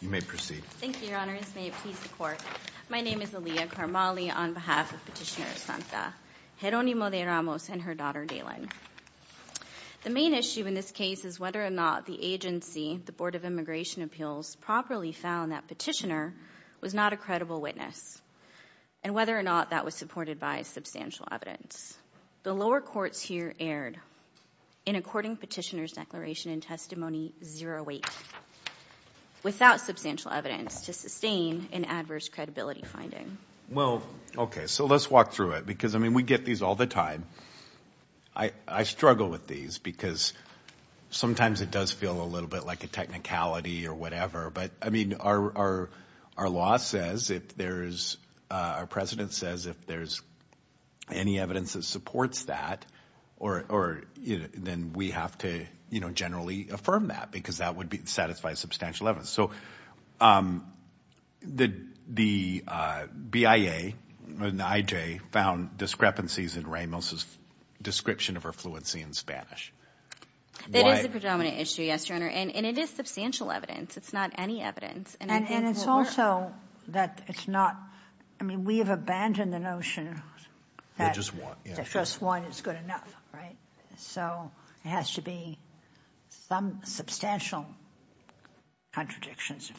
You may proceed. Thank you, Your Honors. May it please the Court. My name is Aliyah Karmali on behalf of Petitioner Santa, Jeronimo De Ramos, and her daughter, Daylen. The main issue in this case is whether or not the agency, the Board of Immigration Appeals, properly found that Petitioner was not a credible witness, and whether or not that was supported by substantial evidence. The lower courts here erred in according Petitioner's Declaration and Testimony 08 without substantial evidence to sustain an adverse credibility finding. Well, okay, so let's walk through it because, I mean, we get these all the time. I struggle with these because sometimes it does feel a little bit like a technicality or whatever, but, I mean, our law says if there's, our precedent says if there's any evidence that supports that then we have to, you know, generally affirm that because that would satisfy substantial evidence. So, the BIA and the IJ found discrepancies in Ramos' description of her fluency in Spanish. That is the predominant issue, yes, Your Honor, and it is substantial evidence. It's not any evidence. And it's also that it's not, I mean, we have abandoned the notion that just one is good enough, right? So, it has to be some substantial contradictions,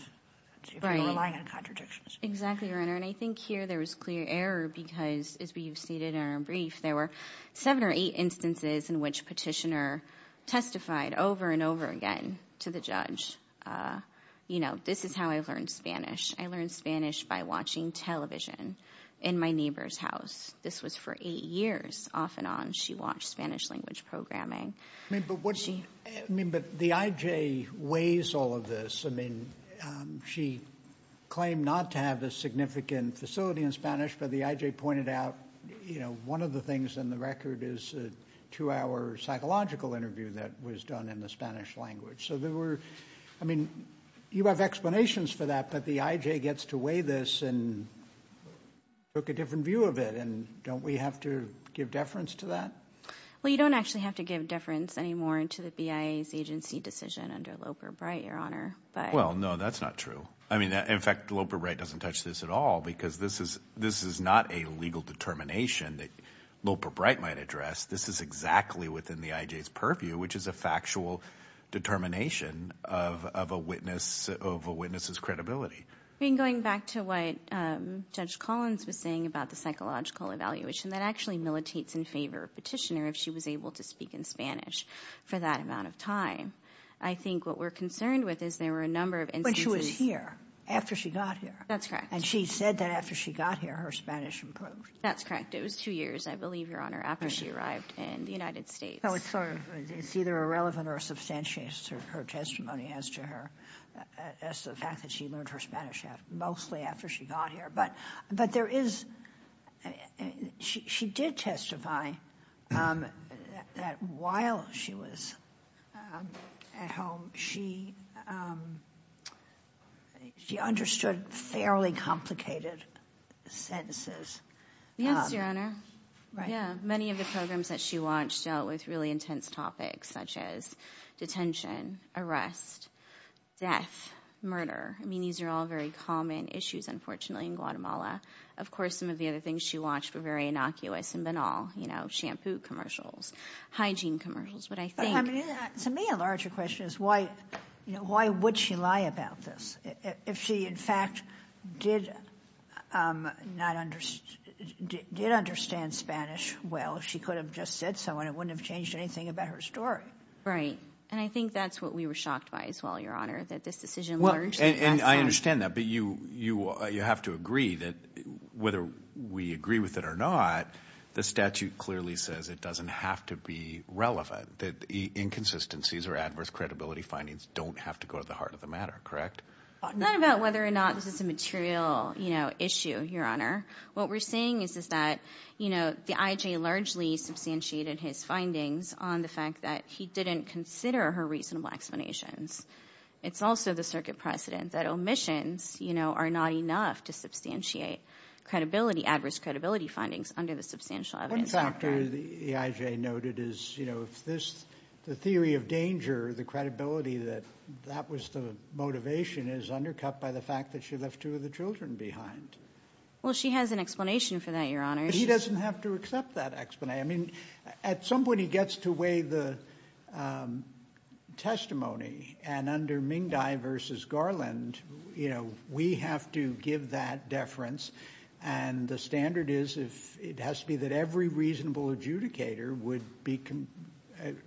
if you're relying on contradictions. Exactly, Your Honor, and I think here there was clear error because, as we've stated in our brief, there were seven or eight instances in which Petitioner testified over and over again to the judge, you know, this is how I learned Spanish. I learned Spanish by watching television in my neighbor's house. This was for eight years off and on. She watched Spanish language programming. I mean, but the IJ weighs all of this. I mean, she claimed not to have a significant facility in Spanish, but the IJ pointed out, you know, one of the things in the record is a two-hour psychological interview that was done in the Spanish language. So, there were, I mean, you have explanations for that, but the IJ gets to weigh this and took a different view of it, and don't we have to give deference to that? Well, you don't actually have to give deference anymore to the BIA's agency decision under Loper-Bright, Your Honor. Well, no, that's not true. I mean, in fact, Loper-Bright doesn't touch this at all because this is not a legal determination that Loper-Bright might address. This is exactly within the IJ's purview, which is a factual determination of a witness's credibility. I mean, going back to what Judge Collins was saying about the psychological evaluation, that actually militates in favor of Petitioner if she was able to speak in Spanish for that amount of time. I think what we're concerned with is there were a number of instances When she was here, after she got here. That's correct. And she said that after she got here, her Spanish improved. That's correct. It was two years, I believe, Your Honor, after she arrived in the United States. So, it's sort of, it's either irrelevant or substantiated her testimony as to her, as to the fact that she learned her Spanish mostly after she got here. But there is, she did testify that while she was at home, she understood fairly complicated sentences. Yes, Your Honor. Yeah, many of the programs that she launched dealt with really intense topics such as detention, arrest, death, murder. I mean, these are all very common issues, unfortunately, in Guatemala. Of course, some of the other things she launched were very innocuous and banal, you know, shampoo commercials, hygiene commercials. But I think... To me, a larger question is why would she lie about this if she, in fact, did understand Spanish well? She could have just said so and it wouldn't have changed anything about her story. Right. And I think that's what we were shocked by as well, Your Honor, that this decision... Well, and I understand that, but you have to agree that whether we agree with it or not, the statute clearly says it doesn't have to be relevant, that inconsistencies or adverse credibility findings don't have to go to the heart of the matter, correct? Not about whether or not this is a material, you know, issue, Your Honor. What we're seeing is that, you know, the I.J. largely substantiated his findings on the fact that he didn't consider her reasonable explanations. It's also the circuit precedent that omissions, you know, are not enough to substantiate credibility, adverse credibility findings under the Substantial Evidence Act. One factor the I.J. noted is, you know, the theory of danger, the credibility that that was the motivation is undercut by the fact that she left two of the children behind. Well, she has an explanation for that, Your Honor. But he doesn't have to accept that explanation. I mean, at some point he gets to weigh the testimony, and under Mingdi v. Garland, you know, we have to give that deference, and the standard is if it has to be that every reasonable adjudicator would be compelled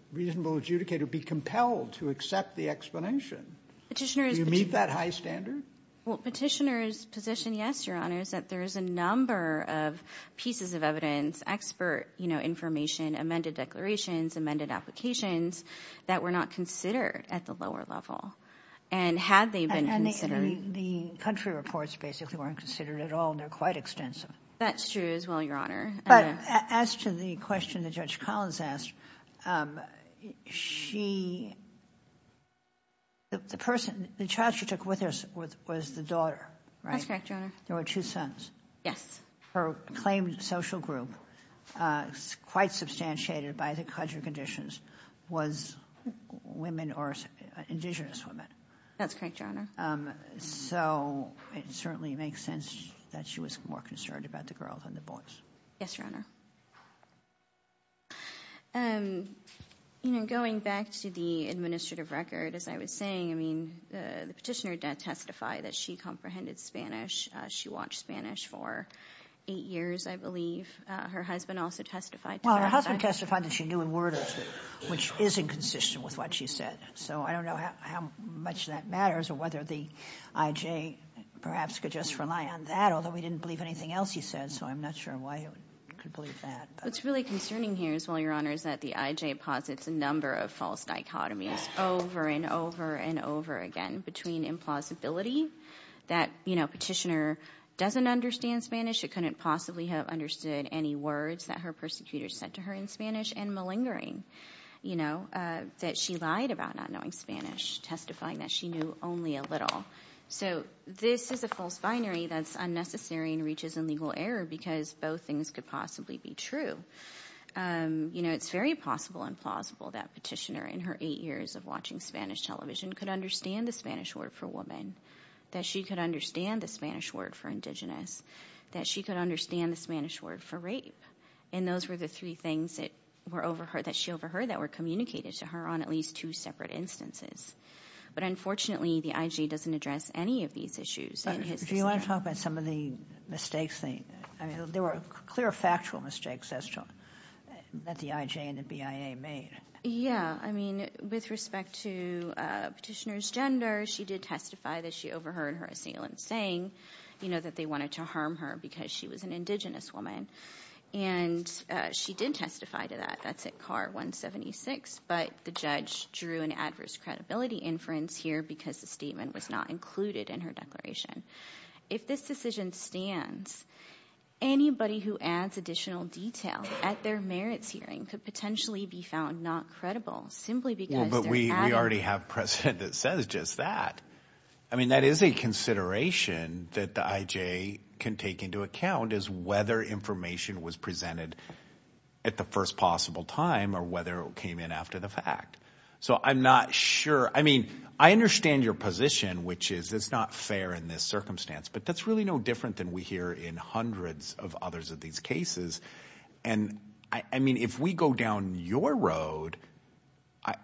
to accept the explanation. Do you meet that high standard? Petitioner's position, yes, Your Honor, is that there is a number of pieces of evidence, expert, you know, information, amended declarations, amended applications that were not considered at the lower level, and had they been considered. And the country reports basically weren't considered at all, and they're quite extensive. That's true as well, Your Honor. But as to the question that Judge Collins asked, she, the person, the child she took with her was the daughter, right? That's correct, Your Honor. There were two sons. Yes. Her claimed social group quite substantiated by the country conditions was women or indigenous women. That's correct, Your Honor. So it certainly makes sense that she was more concerned about the girls than the boys. Yes, Your Honor. You know, going back to the administrative record, as I was saying, I mean, the petitioner did testify that she comprehended Spanish. She watched Spanish for eight years, I believe. Her husband also testified to that. Well, her husband testified that she knew a word or two, which is inconsistent with what she said. So I don't know how much that matters or whether the IJ perhaps could just rely on that, although we didn't believe anything else he said, so I'm not sure why he could believe that. What's really concerning here as well, Your Honor, is that the IJ posits a number of false dichotomies over and over and over again between implausibility, that, you know, petitioner doesn't understand Spanish, she couldn't possibly have understood any words that her persecutors said to her in Spanish, and malingering, you know, that she lied about not knowing Spanish, testifying that she knew only a little. So this is a false binary that's unnecessary and reaches illegal error because both things could possibly be true. You know, it's very possible and plausible that petitioner, in her eight years of watching Spanish television, could understand the Spanish word for woman, that she could understand the Spanish word for indigenous, that she could understand the Spanish word for rape, and those were the three things that she overheard that were communicated to her on at least two separate instances. But unfortunately, the IJ doesn't address any of these issues. Do you want to talk about some of the mistakes? I mean, there were clear factual mistakes that the IJ and the BIA made. Yeah, I mean, with respect to petitioner's gender, she did testify that she overheard her assailant saying, you know, that they wanted to harm her because she was an indigenous woman, and she did testify to that. That's at Carr 176, but the judge drew an adverse credibility inference here because the statement was not included in her declaration. If this decision stands, anybody who adds additional detail at their merits hearing could potentially be found not credible simply because they're having... Well, but we already have precedent that says just that. I mean, that is a consideration that the IJ can take into account, is whether information was presented at the first possible time or whether it came in after the fact. So I'm not sure. I mean, I understand your position, which is it's not fair in this circumstance, but that's really no different than we hear in hundreds of others of these cases. And I mean, if we go down your road,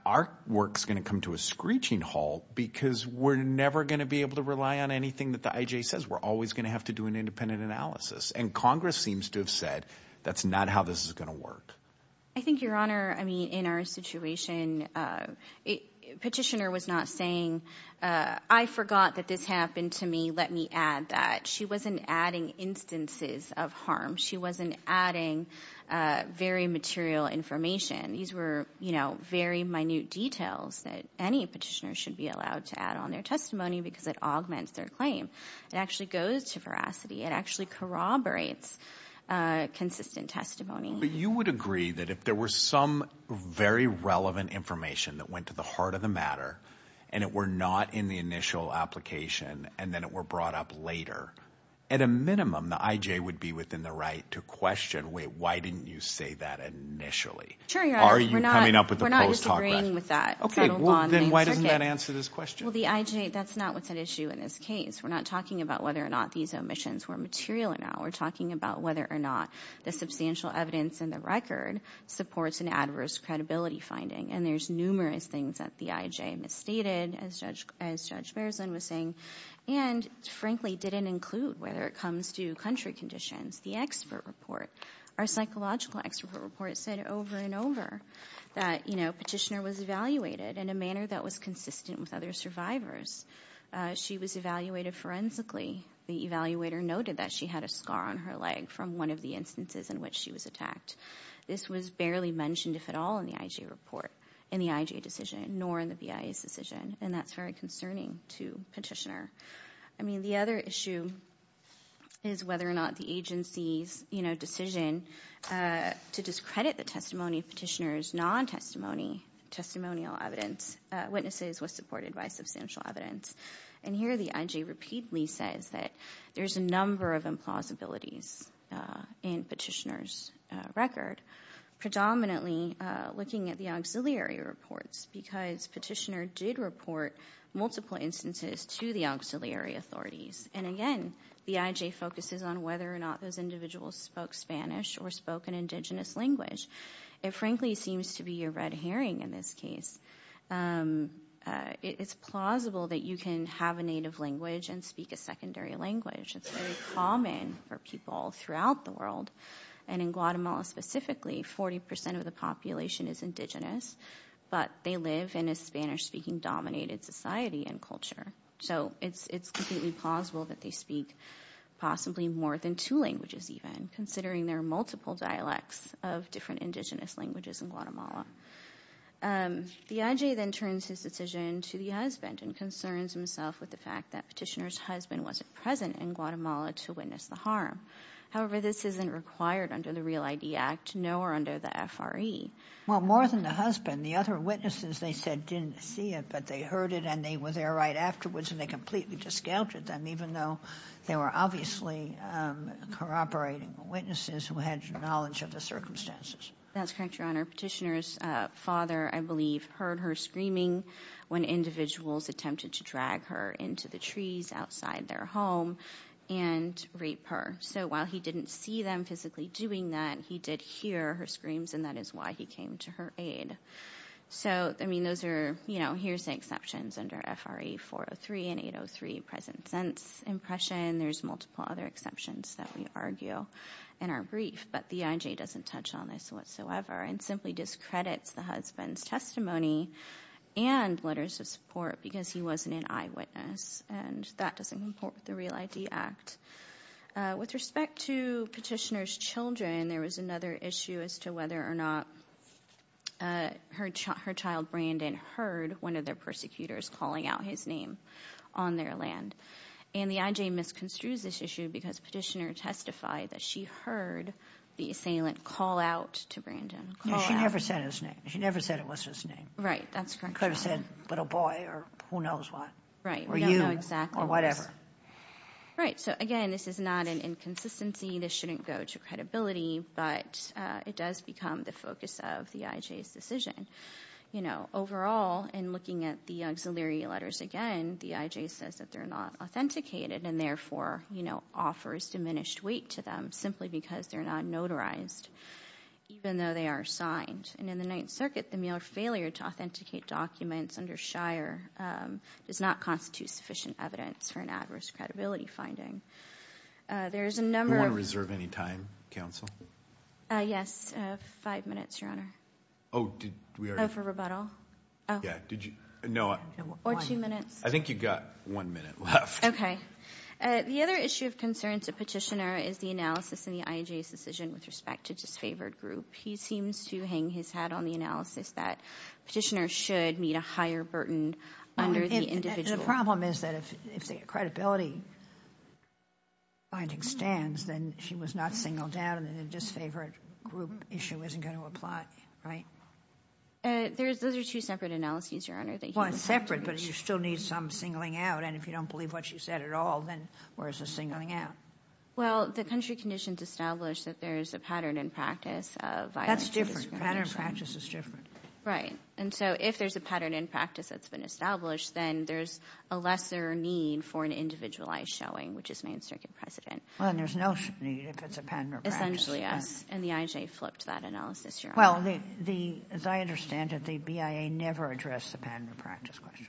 our work's going to come to a screeching halt because we're never going to be able to rely on anything that the IJ says. We're always going to have to do an independent analysis. And that's not how this is going to work. I think, Your Honor, I mean, in our situation, Petitioner was not saying, I forgot that this happened to me. Let me add that. She wasn't adding instances of harm. She wasn't adding very material information. These were, you know, very minute details that any petitioner should be allowed to add on their testimony because it augments their claim. It actually goes to corroborates consistent testimony. But you would agree that if there were some very relevant information that went to the heart of the matter and it were not in the initial application and then it were brought up later, at a minimum, the IJ would be within the right to question, wait, why didn't you say that initially? Are you coming up with a post hoc record? We're not disagreeing with that. Then why doesn't that answer this question? Well, the IJ, that's not what's at issue in this case. We're not talking about whether or not these omissions were material or not. We're talking about whether or not the substantial evidence in the record supports an adverse credibility finding. And there's numerous things that the IJ misstated, as Judge Bearsden was saying, and frankly didn't include whether it comes to country conditions. The expert report, our psychological expert report said over and over that, you know, Petitioner was evaluated in a manner that was consistent with other survivors. She was evaluated forensically. The evaluator noted that she had a scar on her leg from one of the instances in which she was attacked. This was barely mentioned if at all in the IJ report, in the IJ decision, nor in the BIA's decision, and that's very concerning to Petitioner. I mean, the other issue is whether or not the agency's, you know, decision to discredit the testimony of Petitioner's non-testimony, testimonial evidence, witnesses was supported by substantial evidence. And here the IJ repeatedly says that there's a number of implausibilities in Petitioner's record, predominantly looking at the auxiliary reports, because Petitioner did report multiple instances to the auxiliary authorities. And again, the IJ focuses on whether or not those individuals spoke Spanish or spoke an indigenous language. It frankly seems to be a red herring in this case. It's plausible that you can have a native language and speak a secondary language. It's very common for people throughout the world, and in Guatemala specifically, 40% of the population is indigenous, but they live in a Spanish-speaking dominated society and culture. So it's completely plausible that they speak possibly more than two languages even, considering there are multiple dialects of different indigenous languages in Guatemala. The IJ then turns his decision to the husband and concerns himself with the fact that Petitioner's husband wasn't present in Guatemala to witness the harm. However, this isn't required under the Real ID Act, nor under the FRE. Well, more than the husband, the other witnesses they said didn't see it, but they heard it and they were there right afterwards and they completely discounted them, even though they were obviously corroborating witnesses who had knowledge of the circumstances. That's correct, Your Honor. Petitioner's father, I believe, heard her screaming when individuals attempted to drag her into the trees outside their home and rape her. So while he didn't see them physically doing that, he did hear her screams and that is why he came to her aid. So, I mean, those are, you know, here's the 003 present sense impression. There's multiple other exceptions that we argue in our brief, but the IJ doesn't touch on this whatsoever and simply discredits the husband's testimony and letters of support because he wasn't an eyewitness and that doesn't comport with the Real ID Act. With respect to Petitioner's children, there was another issue as to whether or not her child, Brandon, heard one of their land. And the IJ misconstrues this issue because Petitioner testified that she heard the assailant call out to Brandon. She never said his name. She never said it was his name. Right, that's correct. Could have said little boy or who knows what. Right. Or you or whatever. Right, so again, this is not an inconsistency. This shouldn't go to credibility, but it does become the focus of the IJ's decision. You know, overall, in looking at the auxiliary letters again, the IJ says that they're not authenticated and therefore, you know, offers diminished weight to them simply because they're not notarized, even though they are signed. And in the Ninth Circuit, the Mueller failure to authenticate documents under Shire does not constitute sufficient evidence for an adverse credibility finding. There's a number of... Do you want to reserve any time, Counsel? Yes, five minutes, Your Honor. Oh, for rebuttal? Or two minutes. I think you've got one minute left. Okay. The other issue of concern to Petitioner is the analysis in the IJ's decision with respect to disfavored group. He seems to hang his hat on the analysis that Petitioner should meet a higher burden under the individual. The problem is that if the credibility finding stands, then she was not singled out and the disfavored group issue isn't going to apply, right? Those are two separate analyses, Your Honor. Well, it's separate, but you still need some singling out, and if you don't believe what she said at all, then where's the singling out? Well, the country conditions establish that there's a pattern in practice of... That's different. Pattern of practice is different. Right. And so, if there's a pattern in practice that's been established, then there's a lesser need for an individualized showing, which is Main Circuit precedent. Well, then there's no need if it's a pattern of practice. Essentially, yes. And the IJ flipped that analysis, Your Honor. Well, as I understand it, the BIA never addressed the pattern of practice question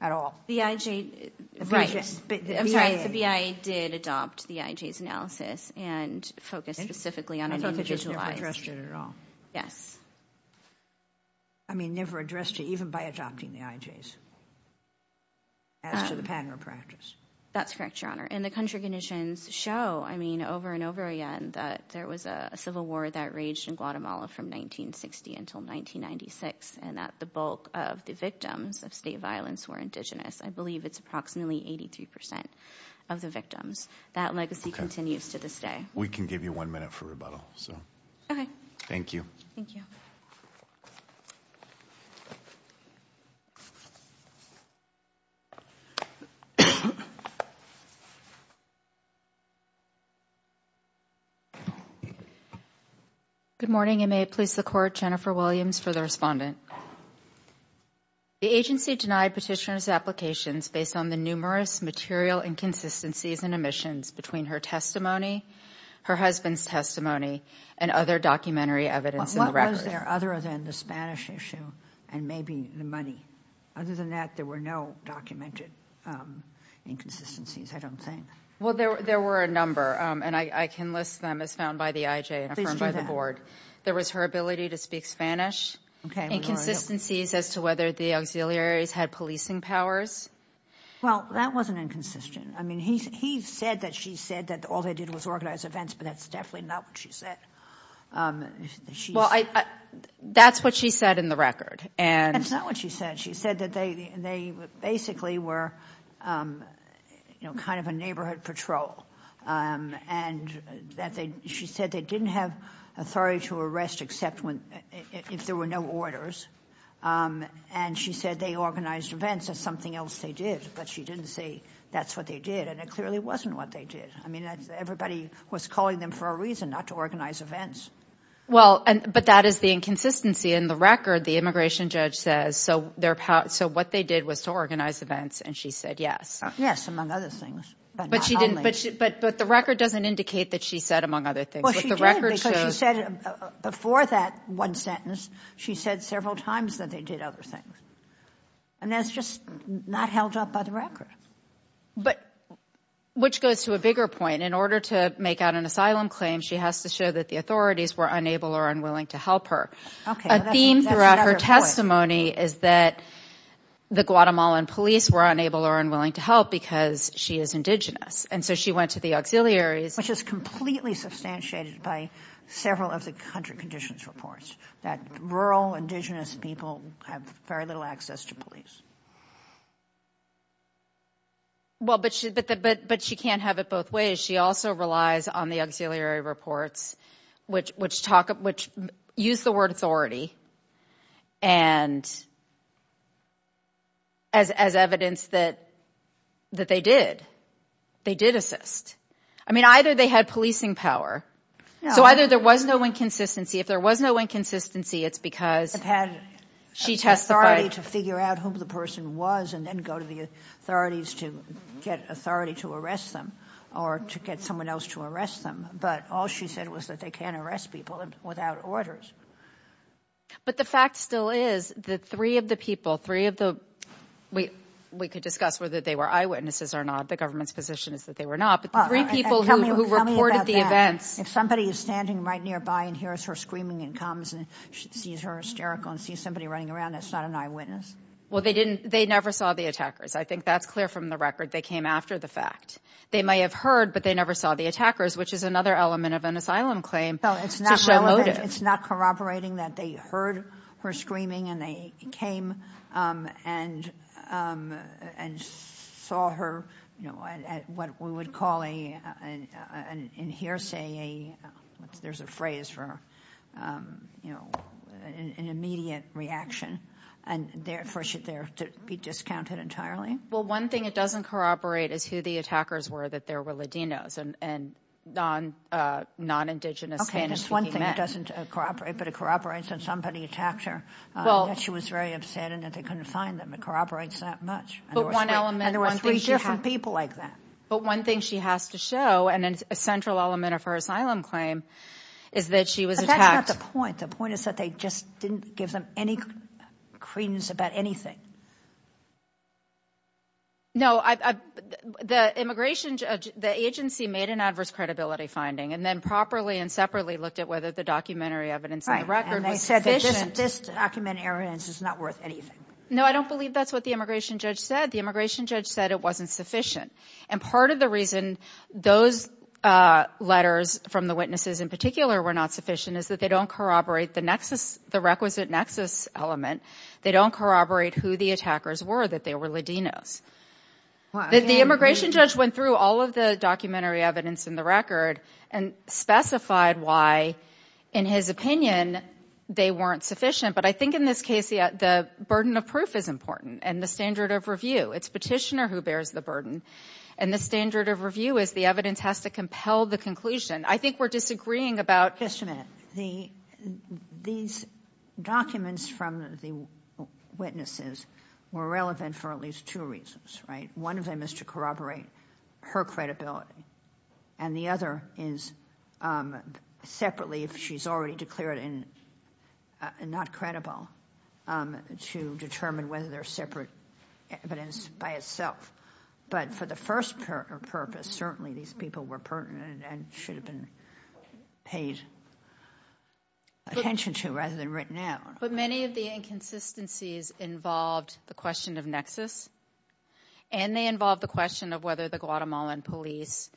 at all. The IJ... Right. I'm sorry. The BIA did adopt the IJ's analysis and focused specifically on an individualized... I thought they just never addressed it at all. Yes. I mean, never addressed it, even by adopting the IJ's as to the pattern of practice. That's correct, Your Honor. And the country conditions show, I mean, over and over again that there was a civil war that raged in Guatemala from 1960 until 1996 and that the bulk of the victims of state violence were indigenous. I believe it's approximately 83% of the victims. That legacy continues to this day. We can give you one minute for rebuttal. Okay. Thank you. Good morning. It may please the Court. Jennifer Williams for the respondent. The agency denied petitioner's applications based on the numerous material inconsistencies and omissions between her testimony, her husband's testimony, and other documentary evidence in the record. What was there other than the Spanish issue and maybe the money? Other than that, there were no documented inconsistencies, I don't think. Well, there were a number, and I can list them as found by the IJ and affirmed by the Board. There was her ability to speak Spanish, inconsistencies as to whether the auxiliaries had policing powers. Well, that wasn't inconsistent. I mean, he said that she said that all they did was organize events, but that's definitely not what she said. That's what she said in the record. That's not what she said. She said that they basically were kind of a neighborhood patrol. She said they didn't have authority to arrest except if there were no orders. And she said they organized events as something else they did, but she didn't say that's what they did. And it clearly wasn't what they did. Everybody was calling them for a reason, not to organize events. Well, but that is the inconsistency in the record. The immigration judge says, so what they did was to organize events, and she said yes. Yes, among other things. But the record doesn't indicate that she said among other things. Before that one sentence, she said several times that they did other things. And that's just not held up by the record. Which goes to a bigger point. In order to make out an asylum claim, she has to show that the authorities were unable or unwilling to help her. A theme throughout her testimony is that the Guatemalan police were unable or unwilling to help because she is indigenous. And so she went to the auxiliaries. Which is completely substantiated by several of the country conditions reports. That rural indigenous people have very little access to police. Well, but she can't have it both ways. She also relies on the auxiliary reports which use the word authority as evidence that they did. They did assist. I mean, either they had policing power. So either there was no inconsistency. If there was no inconsistency, it's because she testified. She had the authority to figure out who the person was and then go to the authorities to get authority to arrest them. Or to get someone else to arrest them. But all she said was that they can't arrest people without orders. But the fact still is that three of the people, we could discuss whether they were eyewitnesses or not. The government's position is that they were not. Tell me about that. If somebody is standing right nearby and hears her screaming and comes and sees her hysterical and sees somebody running around, that's not an eyewitness? Well, they never saw the attackers. I think that's clear from the record. They came after the fact. They may have heard, but they never saw the attackers, which is another element of an asylum claim. It's not corroborating that they heard her screaming and they came and saw her at what we would call an in hearsay, there's a phrase for an immediate reaction. And therefore should there be discounted entirely? Well, one thing that doesn't corroborate is who the attackers were, that they were Ladinos and non-Indigenous Spanish speaking men. Okay, that's one thing that doesn't corroborate, but it corroborates that somebody attacked her, that she was very upset and that they couldn't find them. It corroborates that much. And there were three different people like that. But one thing she has to show, and it's a central element of her asylum claim, is that she was attacked. But that's not the point. The point is that they just didn't give them any credence about anything. No, the immigration judge, the agency made an adverse credibility finding and then properly and separately looked at whether the documentary evidence in the record was sufficient. No, I don't believe that's what the immigration judge said. The immigration judge said it wasn't sufficient. And part of the reason those letters from the witnesses in particular were not sufficient is that they don't corroborate the requisite nexus element. They don't corroborate who the attackers were, that they were Ladinos. The immigration judge went through all of the documentary evidence in the record and specified why, in his opinion, they weren't sufficient. But I think in this case, the burden of proof is important and the standard of review. It's petitioner who bears the burden. And the standard of review is the evidence has to compel the conclusion. I think we're disagreeing about... Just a minute. These documents from the witnesses were relevant for at least two reasons, right? One of them is to corroborate her credibility and the other is separately, if she's already declared not credible, to determine whether there's separate evidence by itself. But for the first purpose, certainly these people were pertinent and should have been paid attention to rather than written out. But many of the inconsistencies involved the question of nexus and they involved the question of whether the Guatemalan police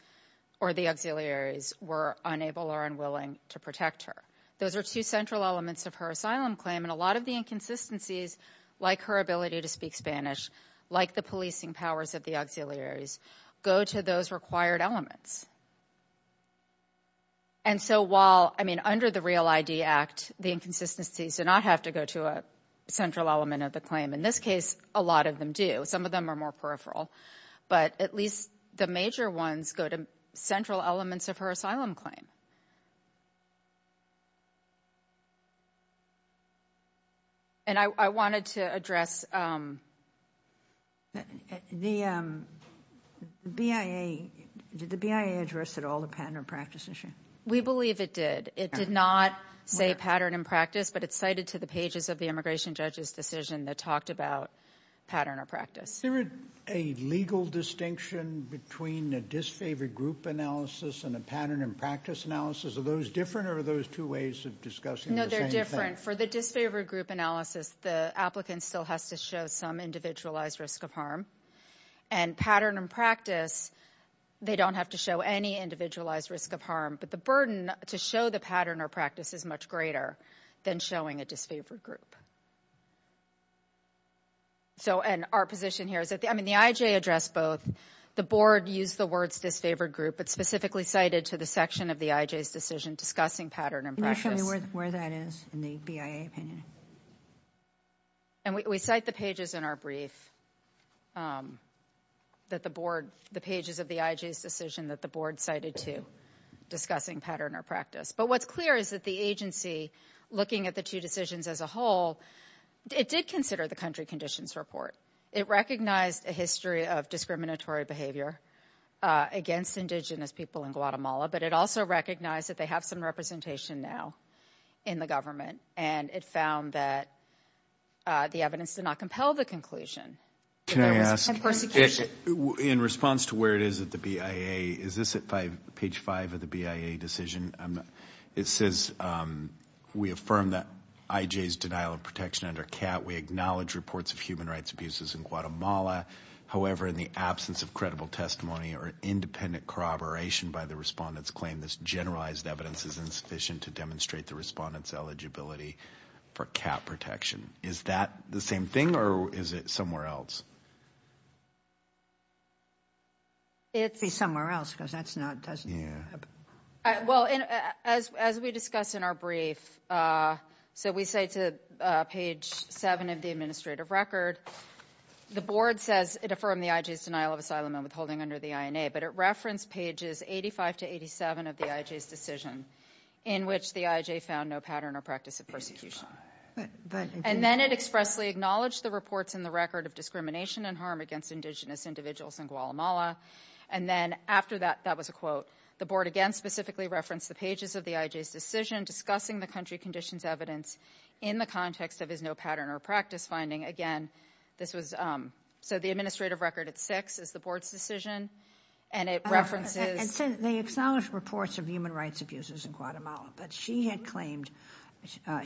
or the auxiliaries were unable or unwilling to protect her. Those are two central elements of her asylum claim and a lot of the inconsistencies, like her ability to speak Spanish, like the policing powers of the auxiliaries, go to those required elements. And so while... I mean, under the REAL ID Act, the inconsistencies do not have to go to a central element of the claim. In this case, a lot of them do. Some of them are more peripheral. But at least the major ones go to central elements of her asylum claim. And I wanted to address... The BIA... Did the BIA address at all the pattern or practice issue? We believe it did. It did not say pattern and practice, but it's cited to the pages of the immigration judge's decision that talked about pattern or practice. Is there a legal distinction between a disfavored group analysis and a pattern and practice analysis? Are those different or are those two ways of discussing the same thing? No, they're different. For the disfavored group analysis, the applicant still has to show some individualized risk of harm. And pattern and practice, they don't have to show any individualized risk of harm. But the burden to show the pattern or practice is much greater than showing a disfavored group. So, and our position here is that... I mean, the IJ addressed both. The board used the words disfavored group, but specifically cited to the section of the IJ's decision discussing pattern and practice. Can you show me where that is in the BIA opinion? And we cite the pages in our brief that the board... the pages of the IJ's decision that the board cited to discussing pattern or practice. But what's clear is that the agency, looking at the two decisions as a whole, it did consider the country conditions report. It recognized a history of discriminatory behavior against indigenous people in Guatemala, but it also recognized that they have some representation now in the government. And it found that the evidence did not compel the conclusion. Can I ask... In response to where it is at the BIA, is this at page 5 of the BIA decision? It says, we affirm the IJ's denial of protection under CAT. We acknowledge reports of human rights abuses in Guatemala. However, in the absence of credible testimony or independent corroboration by the respondent's claim, this generalized evidence is insufficient to demonstrate the respondent's eligibility for CAT protection. Is that the same thing, or is it somewhere else? It's somewhere else, because that's not... Well, as we discussed in our brief, so we say to page 7 of the administrative record, the board says it affirmed the IJ's denial of asylum and withholding under the INA, but it referenced pages 85 to 87 of the IJ's decision in which the IJ found no pattern or practice of persecution. And then it expressly acknowledged the reports in the record of discrimination and harm against indigenous individuals in Guatemala. And then after that, that was a quote. The board again specifically referenced the pages of the IJ's decision discussing the country conditions evidence in the context of his no pattern or practice finding. Again, this was... So the administrative record at 6 is the board's decision, and it references... But she had claimed...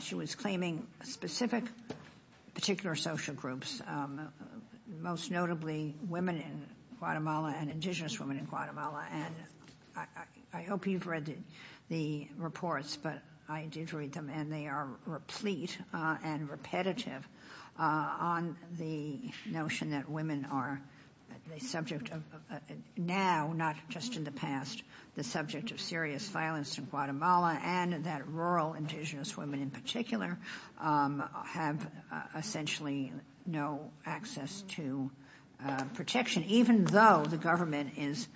She was claiming specific particular social groups, most notably women in Guatemala and indigenous women in Guatemala. And I hope you've read the reports, but I did read them, and they are replete and repetitive on the notion that women are the subject of... Now, not just in the past, the subject of serious violence in Guatemala and that rural indigenous women in particular have essentially no access to protection, even though the government is,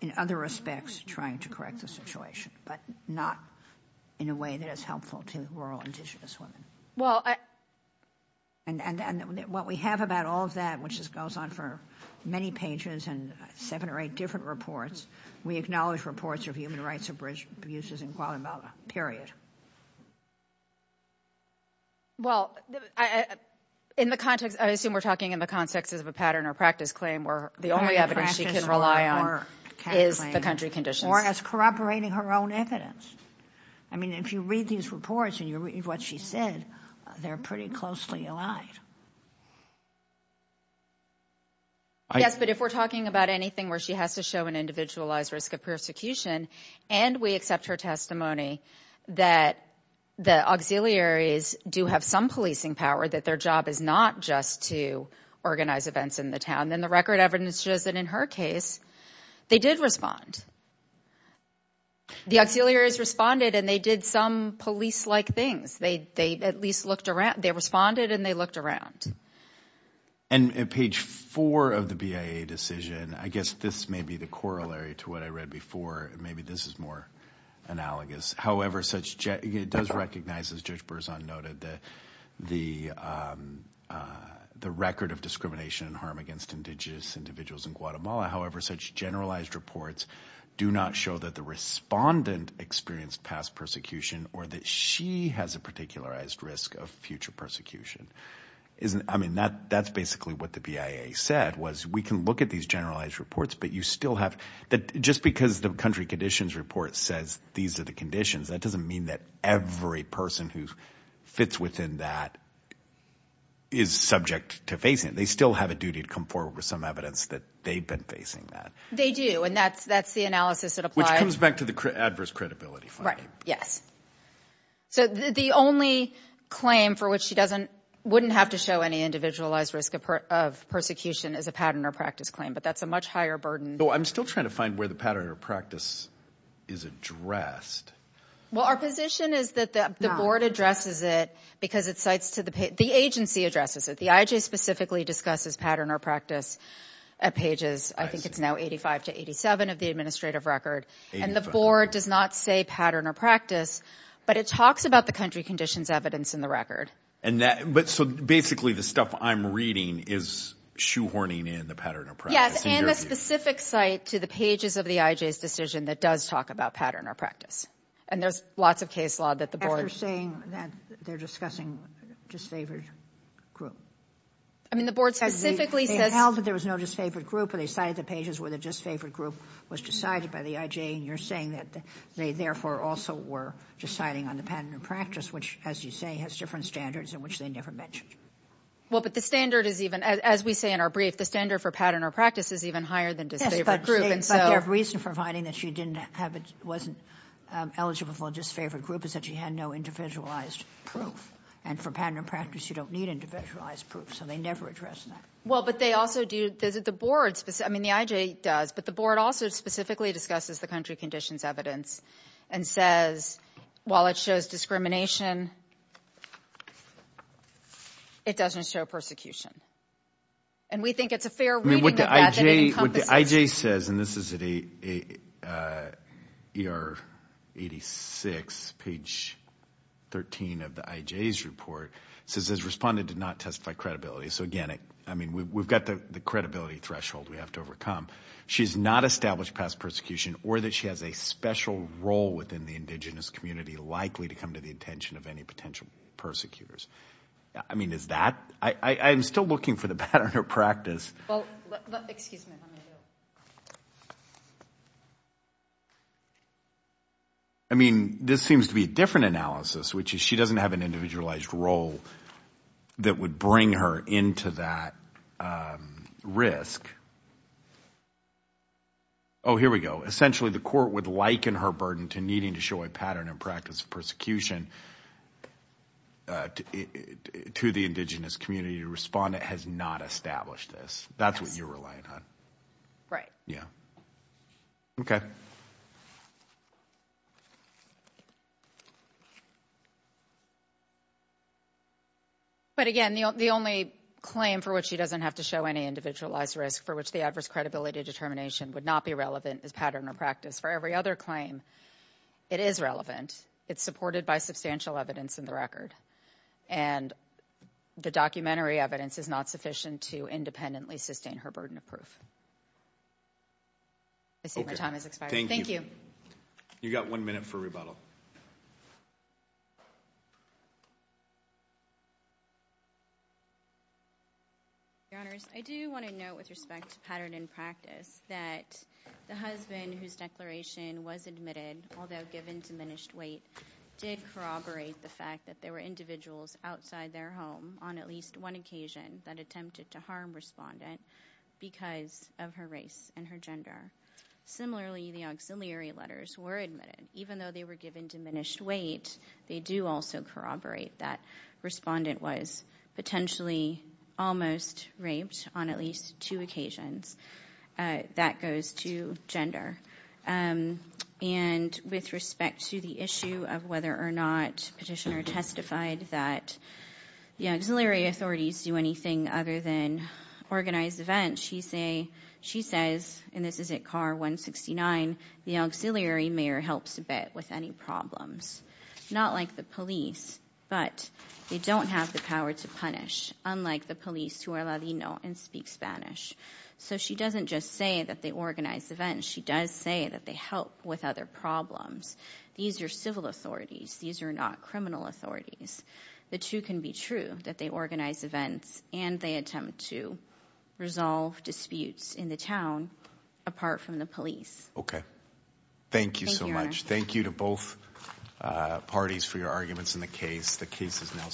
in other respects, trying to correct the situation, but not in a way that is helpful to rural indigenous women. And what we have about all of that, which goes on for many pages and 7 or 8 different reports, we acknowledge reports of human rights abuses in Guatemala, period. Well, in the context... I assume we're talking in the context of a pattern or practice claim where the only evidence she can rely on is the country conditions. Or as corroborating her own evidence. I mean, if you read these reports and you read what she said, they're pretty closely aligned. Yes, but if we're talking about anything where she has to show an individualized risk of persecution, and we accept her testimony that the auxiliaries do have some policing power, that their job is not just to organize events in the town, then the record evidence shows that in her case, they did respond. The auxiliaries responded and they did some police-like things. They at least looked around. And at page 4 of the BIA decision, I guess this may be the corollary to what I read before. Maybe this is more analogous. However, it does recognize, as Judge Berzon noted, the record of discrimination and harm against indigenous individuals in Guatemala. However, such generalized reports do not show that the respondent experienced past persecution or that she has a particularized risk of future persecution. That's basically what the BIA said. We can look at these generalized reports, but just because the country conditions report says these are the conditions, that doesn't mean that every person who fits within that is subject to facing it. They still have a duty to come forward with some evidence that they've been facing that. They do, and that's the analysis that applies. Which comes back to the adverse credibility finding. Yes. The only claim for which she wouldn't have to show any individualized risk of persecution is a pattern or practice claim, but that's a much higher burden. I'm still trying to find where the pattern or practice is addressed. Well, our position is that the board addresses it because the agency addresses it. The IJ specifically discusses pattern or practice at pages, I think it's now 85 to 87 of the administrative record. And the board does not say pattern or practice, but it talks about the country conditions evidence in the record. So basically the stuff I'm reading is shoehorning in the pattern or practice. Yes, and the specific site to the pages of the IJ's decision that does talk about pattern or practice. And there's lots of case law that the board... After saying that, they're discussing disfavored group. I mean, the board specifically says... Well, but the standard is even... As we say in our brief, the standard for pattern or practice is even higher than disfavored group, and so... Yes, but their reason for finding that she wasn't eligible for a disfavored group is that she had no individualized proof. And for pattern or practice, you don't need individualized proof, so they never address that. Well, but they also do... The board specifically... I mean, the IJ does, but the board also specifically discusses the country conditions evidence and says, while it shows discrimination, it doesn't show persecution. And we think it's a fair reading of that, that it encompasses... What the IJ says, and this is at ER 86, page 13 of the IJ's report, says this respondent did not testify to credibility. So again, we've got the credibility threshold we have to overcome. She's not established past persecution or that she has a special role within the indigenous community likely to come to the attention of any potential persecutors. I mean, is that... I'm still looking for the pattern or practice. Well, excuse me. I mean, this seems to be a different analysis, which is she doesn't have an individualized role that would bring her into that risk. Oh, here we go. Essentially, the court would liken her burden to needing to show a pattern and practice of persecution to the indigenous community. The respondent has not established this. That's what you're relying on. Right. Yeah. Okay. But again, the only claim for which she doesn't have to show any individualized risk for which the adverse credibility determination would not be relevant is pattern or practice. For every other claim, it is relevant. It's supported by substantial evidence in the record. And the documentary evidence is not sufficient to independently sustain her burden of proof. I see my time has expired. Thank you. You've got one minute for rebuttal. Your Honors, I do want to note with respect to pattern and practice that the husband whose declaration was admitted, although given diminished weight, did corroborate the fact that there were individuals outside their home on at least one occasion that attempted to harm respondent because of her race and her gender. Similarly, the auxiliary letters were admitted. Even though they were given diminished weight, they do also corroborate that respondent was potentially almost raped on at least two occasions. That goes to gender. And with respect to the issue of whether or not petitioner testified that the auxiliary authorities do anything other than organize events, she says, and this is at car 169, the auxiliary mayor helps a bit with any problems. Not like the police, but they don't have the power to punish, unlike the police who are Ladino and speak Spanish. So she doesn't just say that they organize events. She does say that they help with other problems. These are civil authorities. These are not criminal authorities. The two can be true, that they organize events and they attempt to resolve disputes in the town apart from the police. Okay. Thank you so much. Thank you to both parties for your arguments in the case. The case is now submitted.